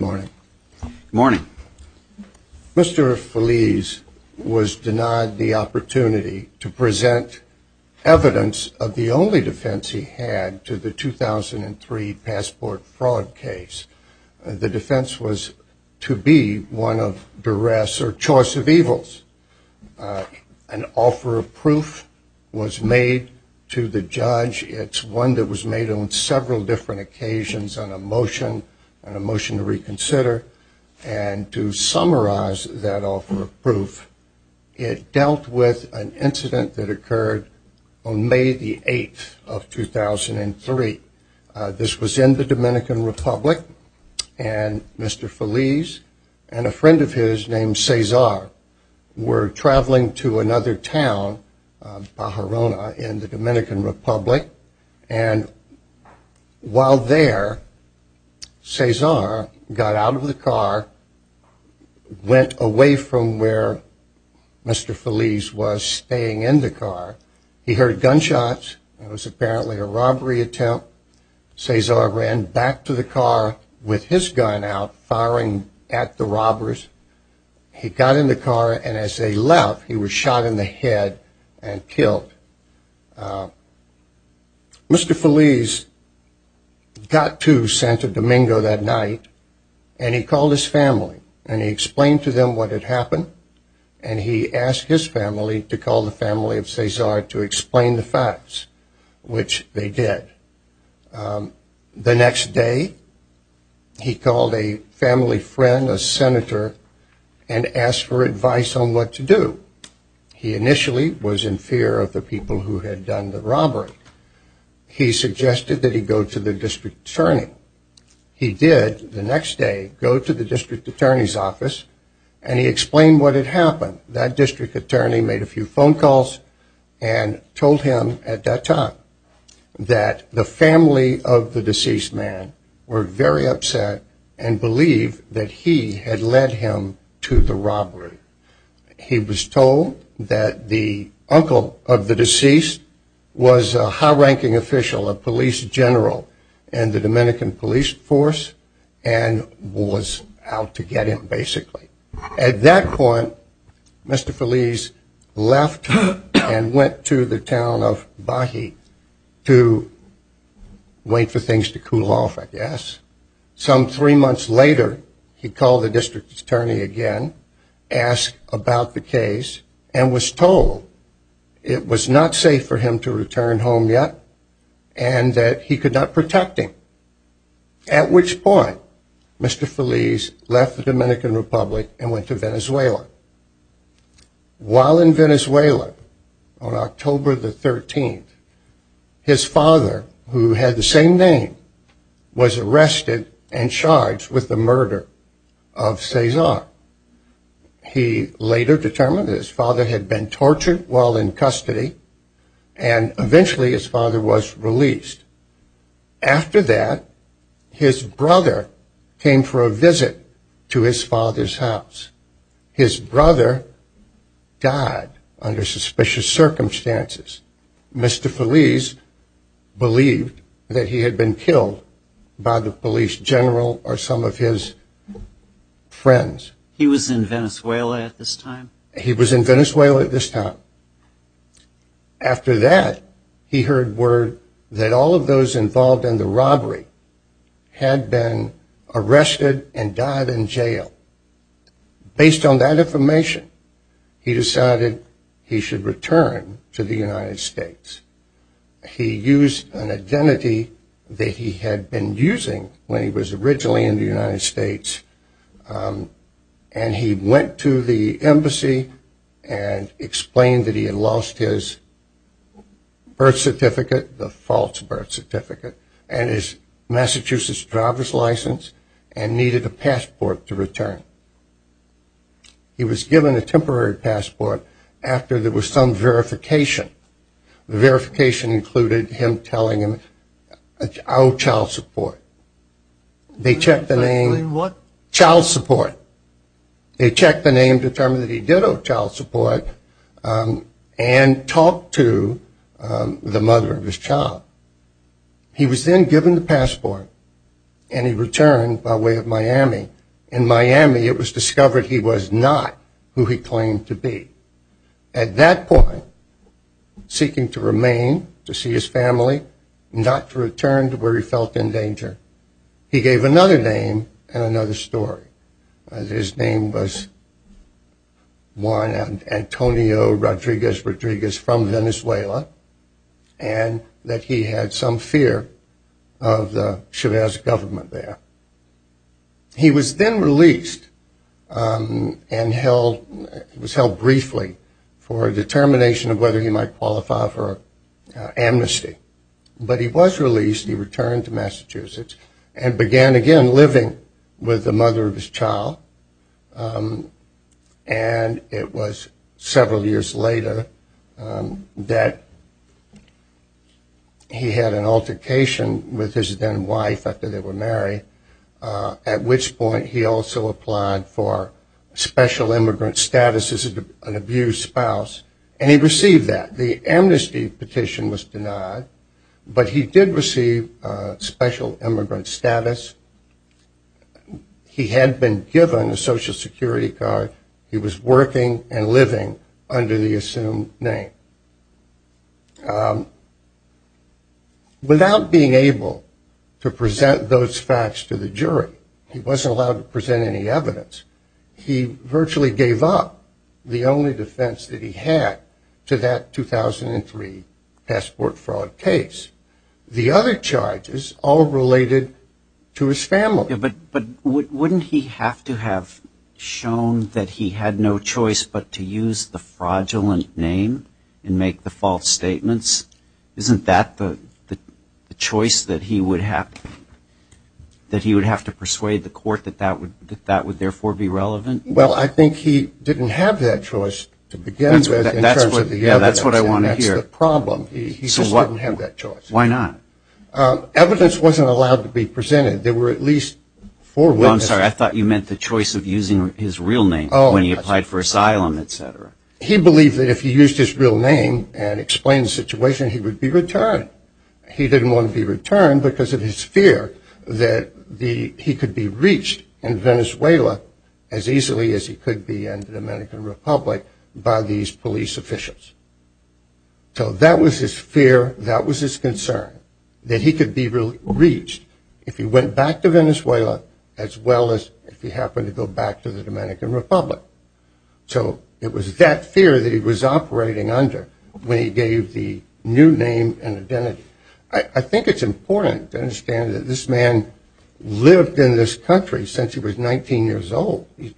morning morning mr. Feliz was denied the opportunity to present evidence of the only defense he had to the 2003 passport fraud case the defense was to be one of duress or choice of evils an offer of proof was made to the judge it's one that was made on several different occasions on a motion and a motion to reconsider and to summarize that offer of proof it dealt with an incident that occurred on May the 8th of 2003 this was in the Dominican Republic and mr. Feliz and a friend of his name Cesar were traveling to another town Bajarona in the Dominican Republic and while there Cesar got out of the car went away from where mr. Feliz was staying in the car he heard gunshots it was apparently a robbery attempt Cesar ran back to the car with his gun out firing at the robbers he got in the car and as they left he was shot in the head and killed mr. Feliz got to Santo Domingo that night and he called his family and he explained to them what had happened and he asked his family to call the family of Cesar to explain the facts which they did the next day he called a senator and asked for advice on what to do he initially was in fear of the people who had done the robbery he suggested that he go to the district attorney he did the next day go to the district attorney's office and he explained what had happened that district attorney made a few phone calls and told him at that time that the family of the deceased man were very upset and believe that he had led him to the robbery he was told that the uncle of the deceased was a high-ranking official of police general and the Dominican police force and was out to get him basically at that point mr. Feliz left and went to the town of Bahi to wait for things to cool off I guess some three months later he called the district attorney again asked about the case and was told it was not safe for him to return home yet and that he could not protect him at which point mr. Feliz left the Dominican Republic and went to Venezuela while in Venezuela on October the 13th his father who had the same name was arrested and charged with the murder of Cesar he later determined his father had been tortured while in custody and eventually his father was released after that his brother came for a visit to his father's house his brother died under suspicious circumstances mr. Feliz believed that he had been killed by the police general or some of his friends he was in Venezuela at this time he was in Venezuela at this time after that he heard word that all of those involved in the robbery had been arrested and died in jail based on that information he decided he should return to the United States he used an identity that he had been using when he was originally in the United States and he went to the embassy and explained that he had lost his birth certificate the false birth certificate and his Massachusetts driver's license and needed a passport to return he was given a temporary passport after there verification the verification included him telling him I owe child support they checked the name what child support they checked the name determined that he did owe child support and talked to the mother of his child he was then given the passport and he returned by way of Miami in Miami it was discovered he was not who he claimed to be at that point seeking to remain to see his family not to return to where he felt in danger he gave another name and another story his name was Juan Antonio Rodriguez Rodriguez from Venezuela and that he had some fear of the Chavez government there he was then released and held was held briefly for a determination of whether he might qualify for amnesty but he was released he returned to Massachusetts and began again living with the mother of his child and it was several years later that he had an altercation with his then wife after they were married at which point he also applied for special immigrant status as an abused spouse and he received that the amnesty petition was denied but he did receive special immigrant status he had been given a social security card he was working and living under the assumed name without being able to present those facts to the jury he wasn't allowed to present any evidence he virtually gave up the only defense that he had to that 2003 passport fraud case the other charges all related to his family but but wouldn't he have to have shown that he had no choice but to use the fraudulent name and make the false statements isn't that the choice that he would have that he would have to persuade the court that that would that that would therefore be relevant well I think he didn't have that choice to begin with that's what I want to hear problem so what we have that choice why evidence wasn't allowed to be presented there were at least four I'm sorry I thought you meant the choice of using his real name oh when he applied for asylum etc he believed that if he used his real name and explained situation he would be returned he didn't want to be returned because of his fear that the he could be reached in Venezuela as easily as he could be in the Dominican Republic by these police officials so that was his fear that was his concern that he could be really reached if he went back to Venezuela as well as if he happened to go back to the Dominican Republic so it was that fear that he was operating under when he gave the new name and identity I think it's important to understand that this man lived in this country since he was 19 years old he's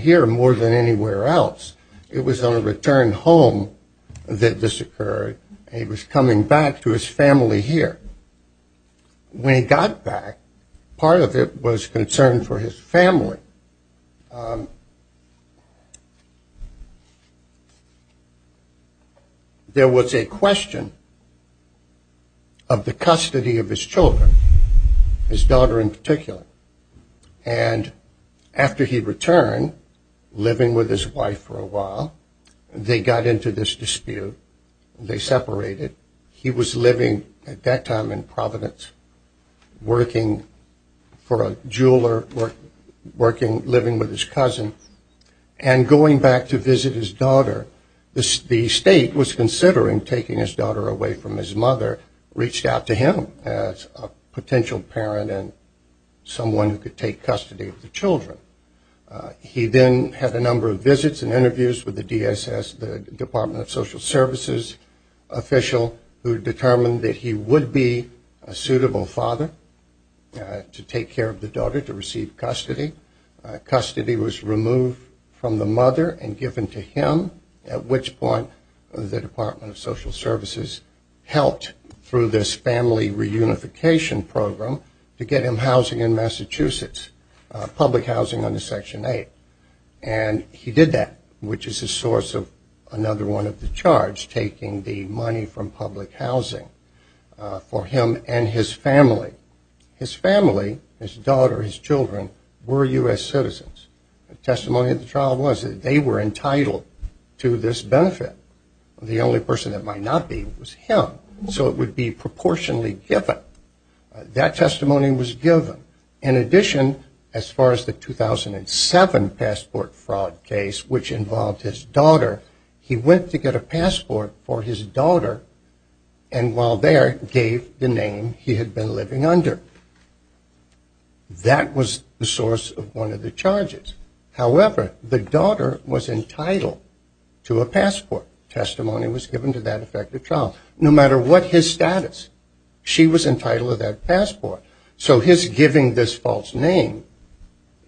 here more than anywhere else it was on a return home that this occurred he was coming back to his family here when he got back part of it was concerned for his family there was a question of the custody of his children his daughter in living with his wife for a while they got into this dispute they separated he was living at that time in Providence working for a jeweler working living with his cousin and going back to visit his daughter this the state was considering taking his daughter away from his mother reached out to him as a had a number of visits and interviews with the DSS the Department of Social Services official who determined that he would be a suitable father to take care of the daughter to receive custody custody was removed from the mother and given to him at which point the Department of Social Services helped through this family reunification program to get him housing in and he did that which is a source of another one of the charge taking the money from public housing for him and his family his family his daughter his children were US citizens testimony of the trial was that they were entitled to this benefit the only person that might not be so it would be proportionally that testimony was given in addition as far as the 2007 passport fraud case which involved his daughter he went to get a passport for his daughter and while there gave the name he had been living under that was the source of one of the charges however the daughter was entitled to a passport testimony was entitled to that passport so his giving this false name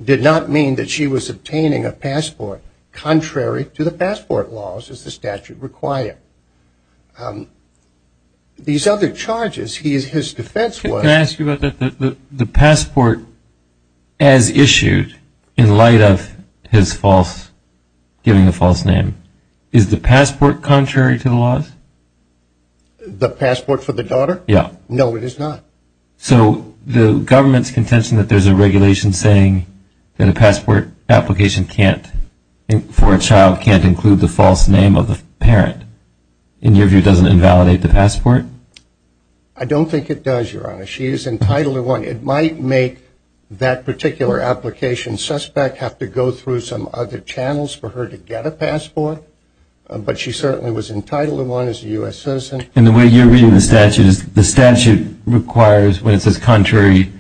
did not mean that she was obtaining a passport contrary to the passport laws as the statute required these other charges he is his defense what can I ask you about that the passport as issued in light of his false giving the false name is the passport contrary to the laws the passport for the daughter yeah no it is not so the government's contention that there's a regulation saying that a passport application can't for a child can't include the false name of the parent in your view doesn't invalidate the passport I don't think it does your honor she is entitled to one it might make that particular application suspect have to go through some other channels for her to get a passport but she certainly was entitled to one as a US citizen and the way you're reading the statute is the statute requires when it says contrary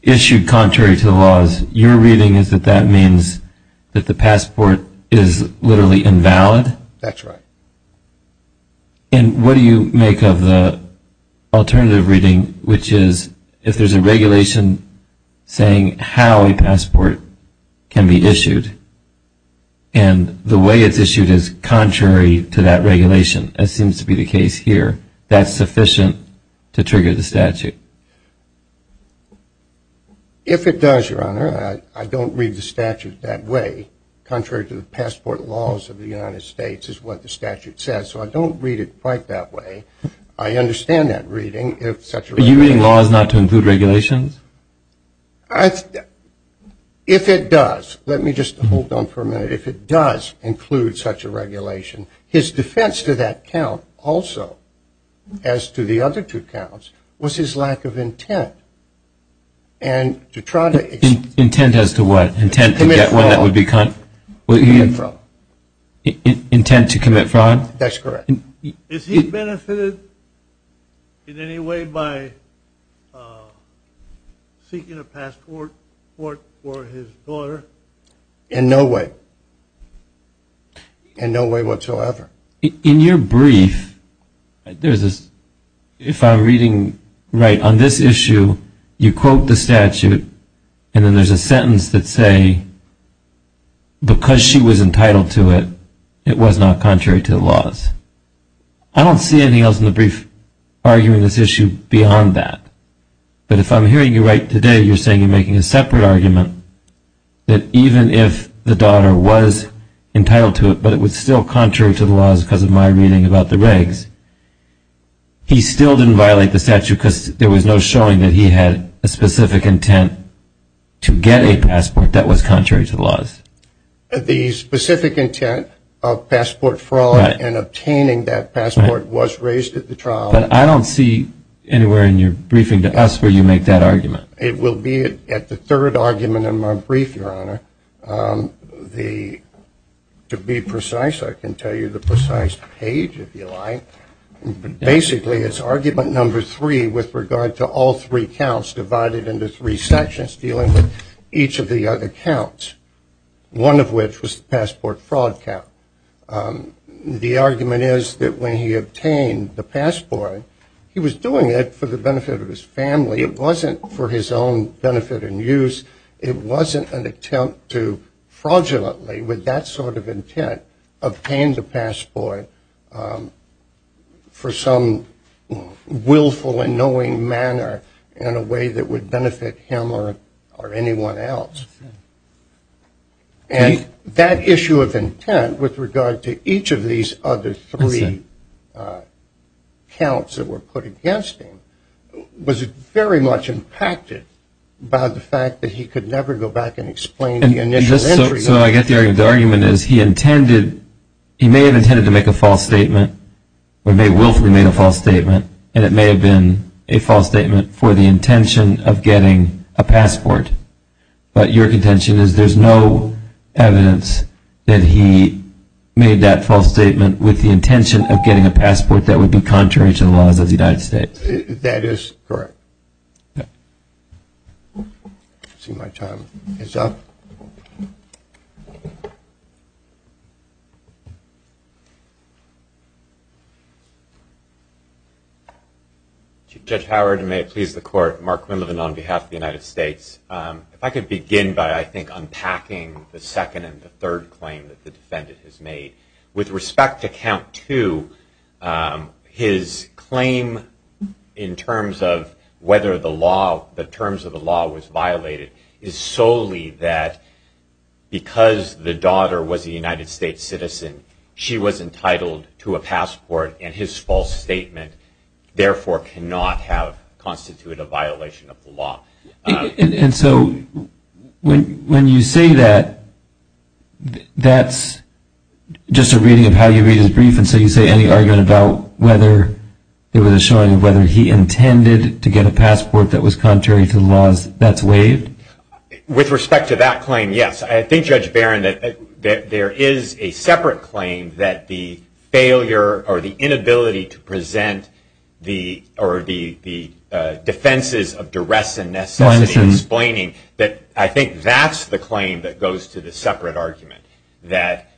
issued contrary to the laws you're reading is that that means that the passport is literally invalid that's right and what do you make of the alternative reading which is if there's a regulation saying how a passport can be issued and the way it's issued is contrary to that regulation as seems to be the case here that's sufficient to trigger the statute if it does your honor I don't read the statute that way contrary to the passport laws of the United States is what the statute says so I don't read it quite that way I understand that reading if such are you laws not to include regulations I if it does let me just hold on for a minute if it does include such a regulation his defense to that count also as to the other two counts was his lack of intent and to try to intent as to what intent to get one that would be kind what you mean from intent to commit fraud that's in no way in no way whatsoever in your brief there's this if I'm reading right on this issue you quote the statute and then there's a sentence that say because she was entitled to it it was not contrary to the laws I don't see anything else in the brief arguing this issue beyond that but if I'm hearing you right today you're saying you're making a separate argument that even if the daughter was entitled to it but it was still contrary to the laws because of my reading about the regs he still didn't violate the statute because there was no showing that he had a specific intent to get a passport that was contrary to the the specific intent of passport fraud and obtaining that passport was raised at the trial but I don't see anywhere in your briefing to us where you make that argument it will be at the third argument in my brief your honor the to be precise I can tell you the precise page if you like but basically it's argument number three with regard to all three counts divided into three sections dealing with each of the other counts one of which was the passport fraud count the argument is that when he obtained the passport he was doing it for the benefit of his family it wasn't for his own benefit and use it wasn't an attempt to fraudulently with that sort of intent obtained a passport for some willful and knowing manner in a way that would benefit him or or anyone else and that issue of intent with regard to each of these other three counts that were put against him was very much impacted by the fact that he could never go back and explain the initial entry so I get the argument is he intended he may have made a false statement and it may have been a false statement for the intention of getting a passport but your contention is there's no evidence that he made that false statement with the intention of getting a passport that would be contrary to the laws of the United States that is correct Judge Howard and may it please the court Mark Quinlivan on behalf of the United States if I could begin by I think unpacking the second and the third claim that the defendant has made with respect to count to his claim in terms of whether the law the terms of the law was violated is solely that because the daughter was a United States citizen she was entitled to a passport and his false statement therefore cannot have constituted a violation of the law and so when you say that that's just a reading of how you read his brief and so you say any argument about whether there was a showing of whether he intended to get a passport that was contrary to the laws that's waived with respect to that claim yes I think Judge Barron that there is a separate claim that the failure or the inability to present the or the the defenses of duress and necessity explaining that I think that's the claim that goes to the separate argument that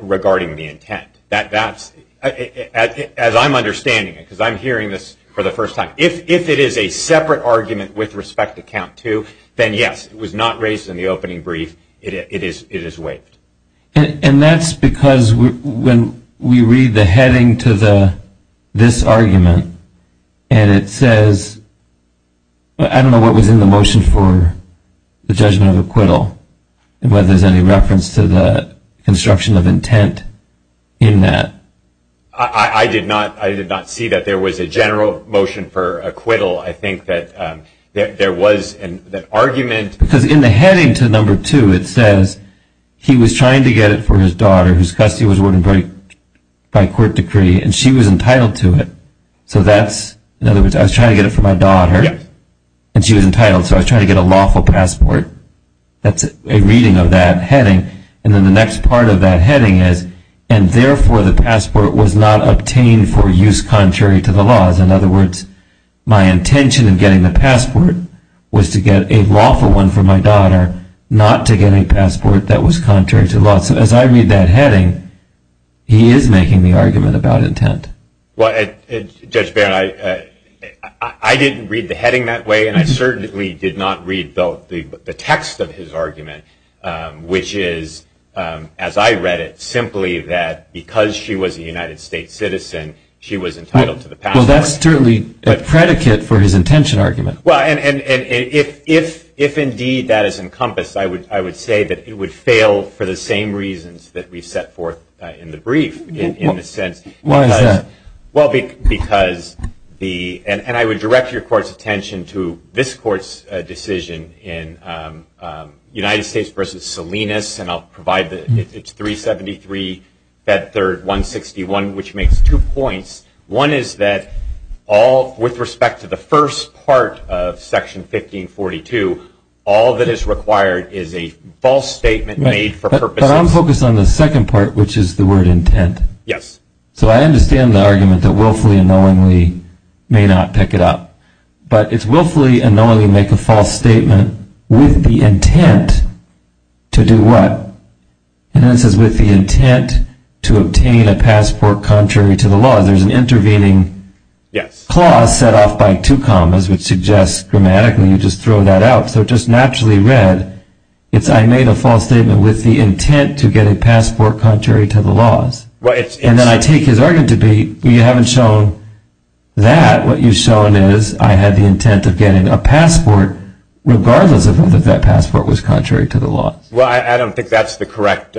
regarding the intent that that's as I'm understanding it because I'm hearing this for the first time if if it is a separate argument with respect to count to then yes it was not raised in the opening brief it is it is and that's because when we read the heading to the this argument and it says I don't know what was in the motion for the judgment of acquittal and whether there's any reference to the construction of intent in that I did not I did not see that there was a general motion for acquittal I think that there was an argument because in the heading to number two it says he was trying to get it for his daughter whose custody was wouldn't break by court decree and she was entitled to it so that's in other words I was trying to get it for my daughter and she was entitled so I was trying to get a lawful passport that's a reading of that heading and then the next part of that heading is and therefore the passport was not obtained for use contrary to the laws in other words my intention of getting the passport was to get a lawful one for my daughter not to get a passport that was contrary to law so as I read that heading he is making the argument about intent what I didn't read the heading that way and I certainly did not read both the text of his argument which is as I read it simply that because she was a United States citizen she was that's certainly a predicate for his intention argument and if indeed that is encompassed I would I would say that it would fail for the same reasons that we set forth in the brief in the sense why is that well because the and I would direct your court's attention to this court's decision in United States versus Salinas and I'll provide that it's 373 that third 161 which makes two points one is that all with respect to the first part of section 1542 all that is required is a false statement made for purpose I'm focused on the second part which is the word intent yes so I understand the argument that willfully and knowingly may not pick it up but it's willfully and knowingly make a false statement with the intent to do what and this is with the intent to intervening yes clause set off by two commas which suggests grammatically you just throw that out so just naturally read it's I made a false statement with the intent to get a passport contrary to the laws well it's and then I take his argument to be you haven't shown that what you've shown is I had the intent of getting a passport regardless of whether that passport was contrary to the law well I don't think that's the correct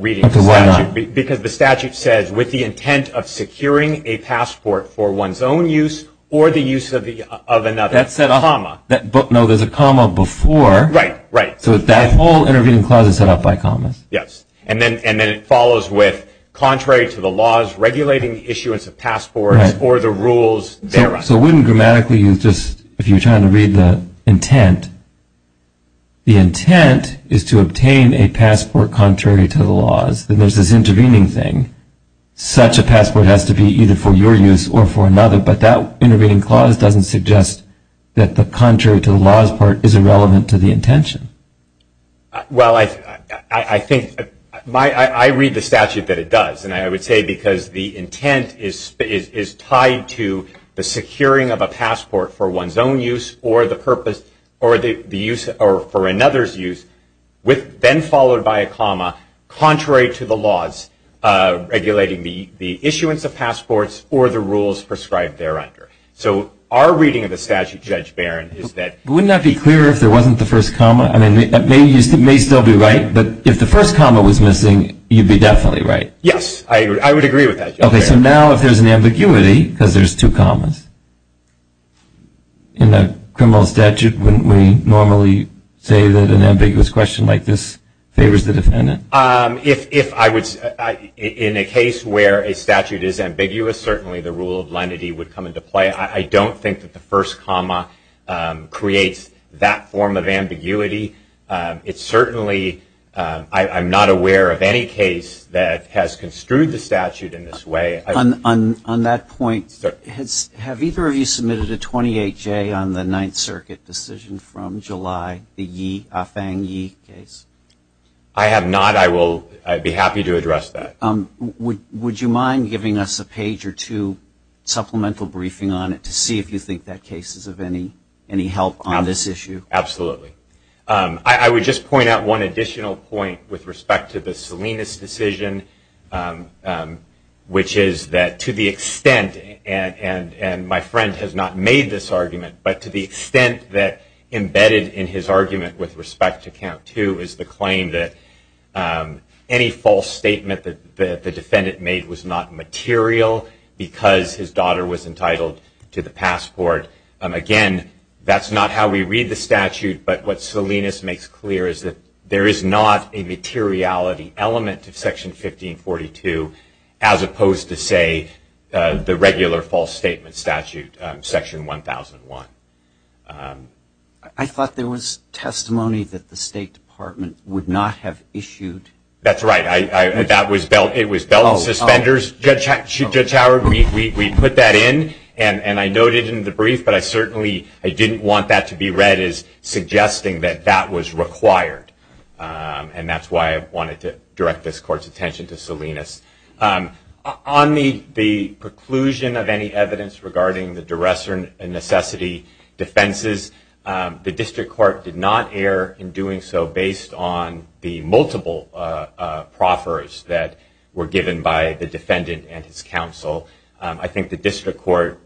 reading because the statute says with the intent of securing a passport for one's own use or the use of the of another that said a comma that book no there's a comma before right right so that all intervening clauses set up by comments yes and then and then it follows with contrary to the laws regulating issuance of passports or the rules there are so wouldn't grammatically you just if you're trying to read the intent the intent is to obtain a passport contrary to the laws intervening thing such a passport has to be either for your use or for another but that intervening clause doesn't suggest that the contrary to the laws part is irrelevant to the intention well I I think my I read the statute that it does and I would say because the intent is is tied to the securing of a passport for one's own use or the purpose or the use or for another's use with then contrary to the laws regulating the the issuance of passports or the rules prescribed there under so our reading of the statute judge Baron is that would not be clear if there wasn't the first comma I mean they used it may still be right but if the first comma was missing you'd be definitely right yes I would I would agree with that okay so now if there's an ambiguity because there's two commas in the criminal statute when we normally say that an ambiguous question like this favors the defendant um if I was in a case where a statute is ambiguous certainly the rule of lenity would come into play I don't think that the first comma creates that form of ambiguity it's certainly I'm not aware of any case that has construed the statute in this way on on that point have either of you submitted a 28 J on the Ninth Circuit decision from July the 18th to the end of this case I have not I will I'd be happy to address that um would you mind giving us a page or two supplemental briefing on it to see if you think that case is of any any help on this issue absolutely I would just point out one additional point with respect to the Salinas decision which is that to the extent and and and my friend has not made this argument but to the extent that the defendant made was not material because his daughter was entitled to the passport again that's not how we read the statute but what Salinas makes clear is that there is not a materiality element of section 1542 as opposed to say the regular false statement statute section 1001 I thought there was testimony that the State Department would not have issued that's right I that was belt it was belt suspenders judge should judge Howard we put that in and and I noted in the brief but I certainly I didn't want that to be read as suggesting that that was required and that's why I wanted to direct this court's attention to Salinas on the the preclusion of any evidence regarding the duress and necessity defenses the district court did not air in doing so based on the multiple proffers that were given by the defendant and his counsel I think the district court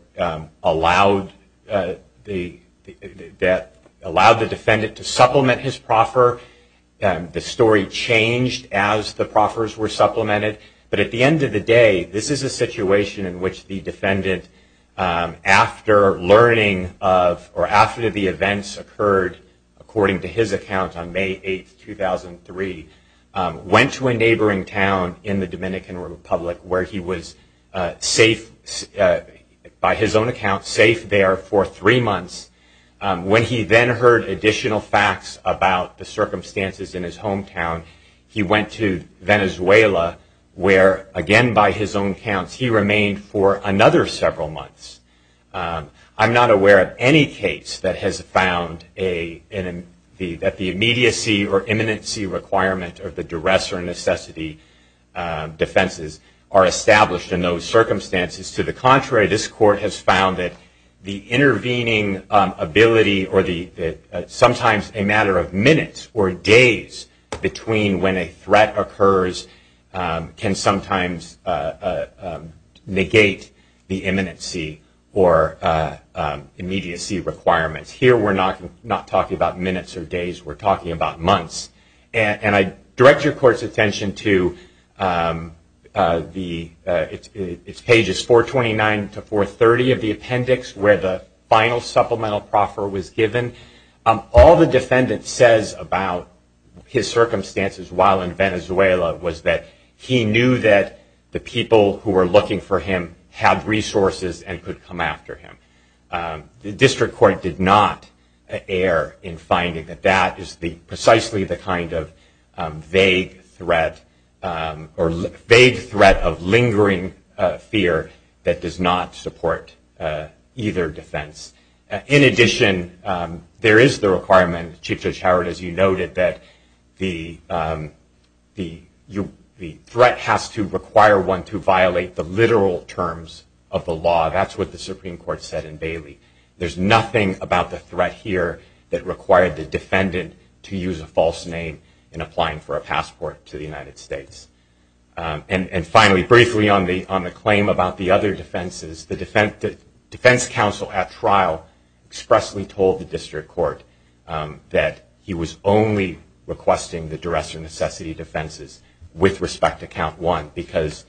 allowed the that allowed the defendant to supplement his proffer and the story changed as the proffers were supplemented but at the end of the day this is a situation in which the after learning of or after the events occurred according to his account on May 8 2003 went to a neighboring town in the Dominican Republic where he was safe by his own account safe there for three months when he then heard additional facts about the circumstances in his hometown he went to Venezuela where again by his own accounts he remained for another several months I'm not aware of any case that has found a that the immediacy or imminency requirement of the duress or necessity defenses are established in those circumstances to the contrary this court has found that the intervening ability or the sometimes a matter of minutes or days between when a threat occurs can sometimes negate the imminency or immediacy requirements here we're not talking about minutes or days we're talking about months and I direct your court's attention to it's pages 429 to 430 of the appendix where the final supplemental proffer was given all the defendant says about his circumstances while in Venezuela was that he knew that the people who were looking for him had resources and could come after him the district court did not err in finding that that is the precisely the kind of vague threat or vague threat of lingering fear that does not support either defense in addition there is the requirement Chief Judge Howard as you noted that the threat has to require one to violate the literal terms of the law that's what the Supreme Court said in Bailey there's nothing about the threat here that required the defendant to use a false name in applying for a passport to the United States and finally briefly on the on the claim about the other defenses the defense counsel at trial expressly told the district court that he was only requesting the duress or necessity defenses with respect to count one because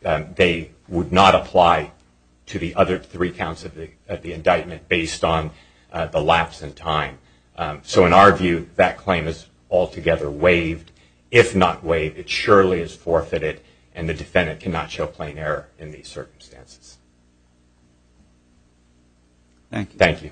they would not apply to the other three counts of the indictment based on the lapse in time so in our view that claim is altogether waived if not waived it surely is forfeited and the defendant cannot show plain error in these circumstances thank you thank you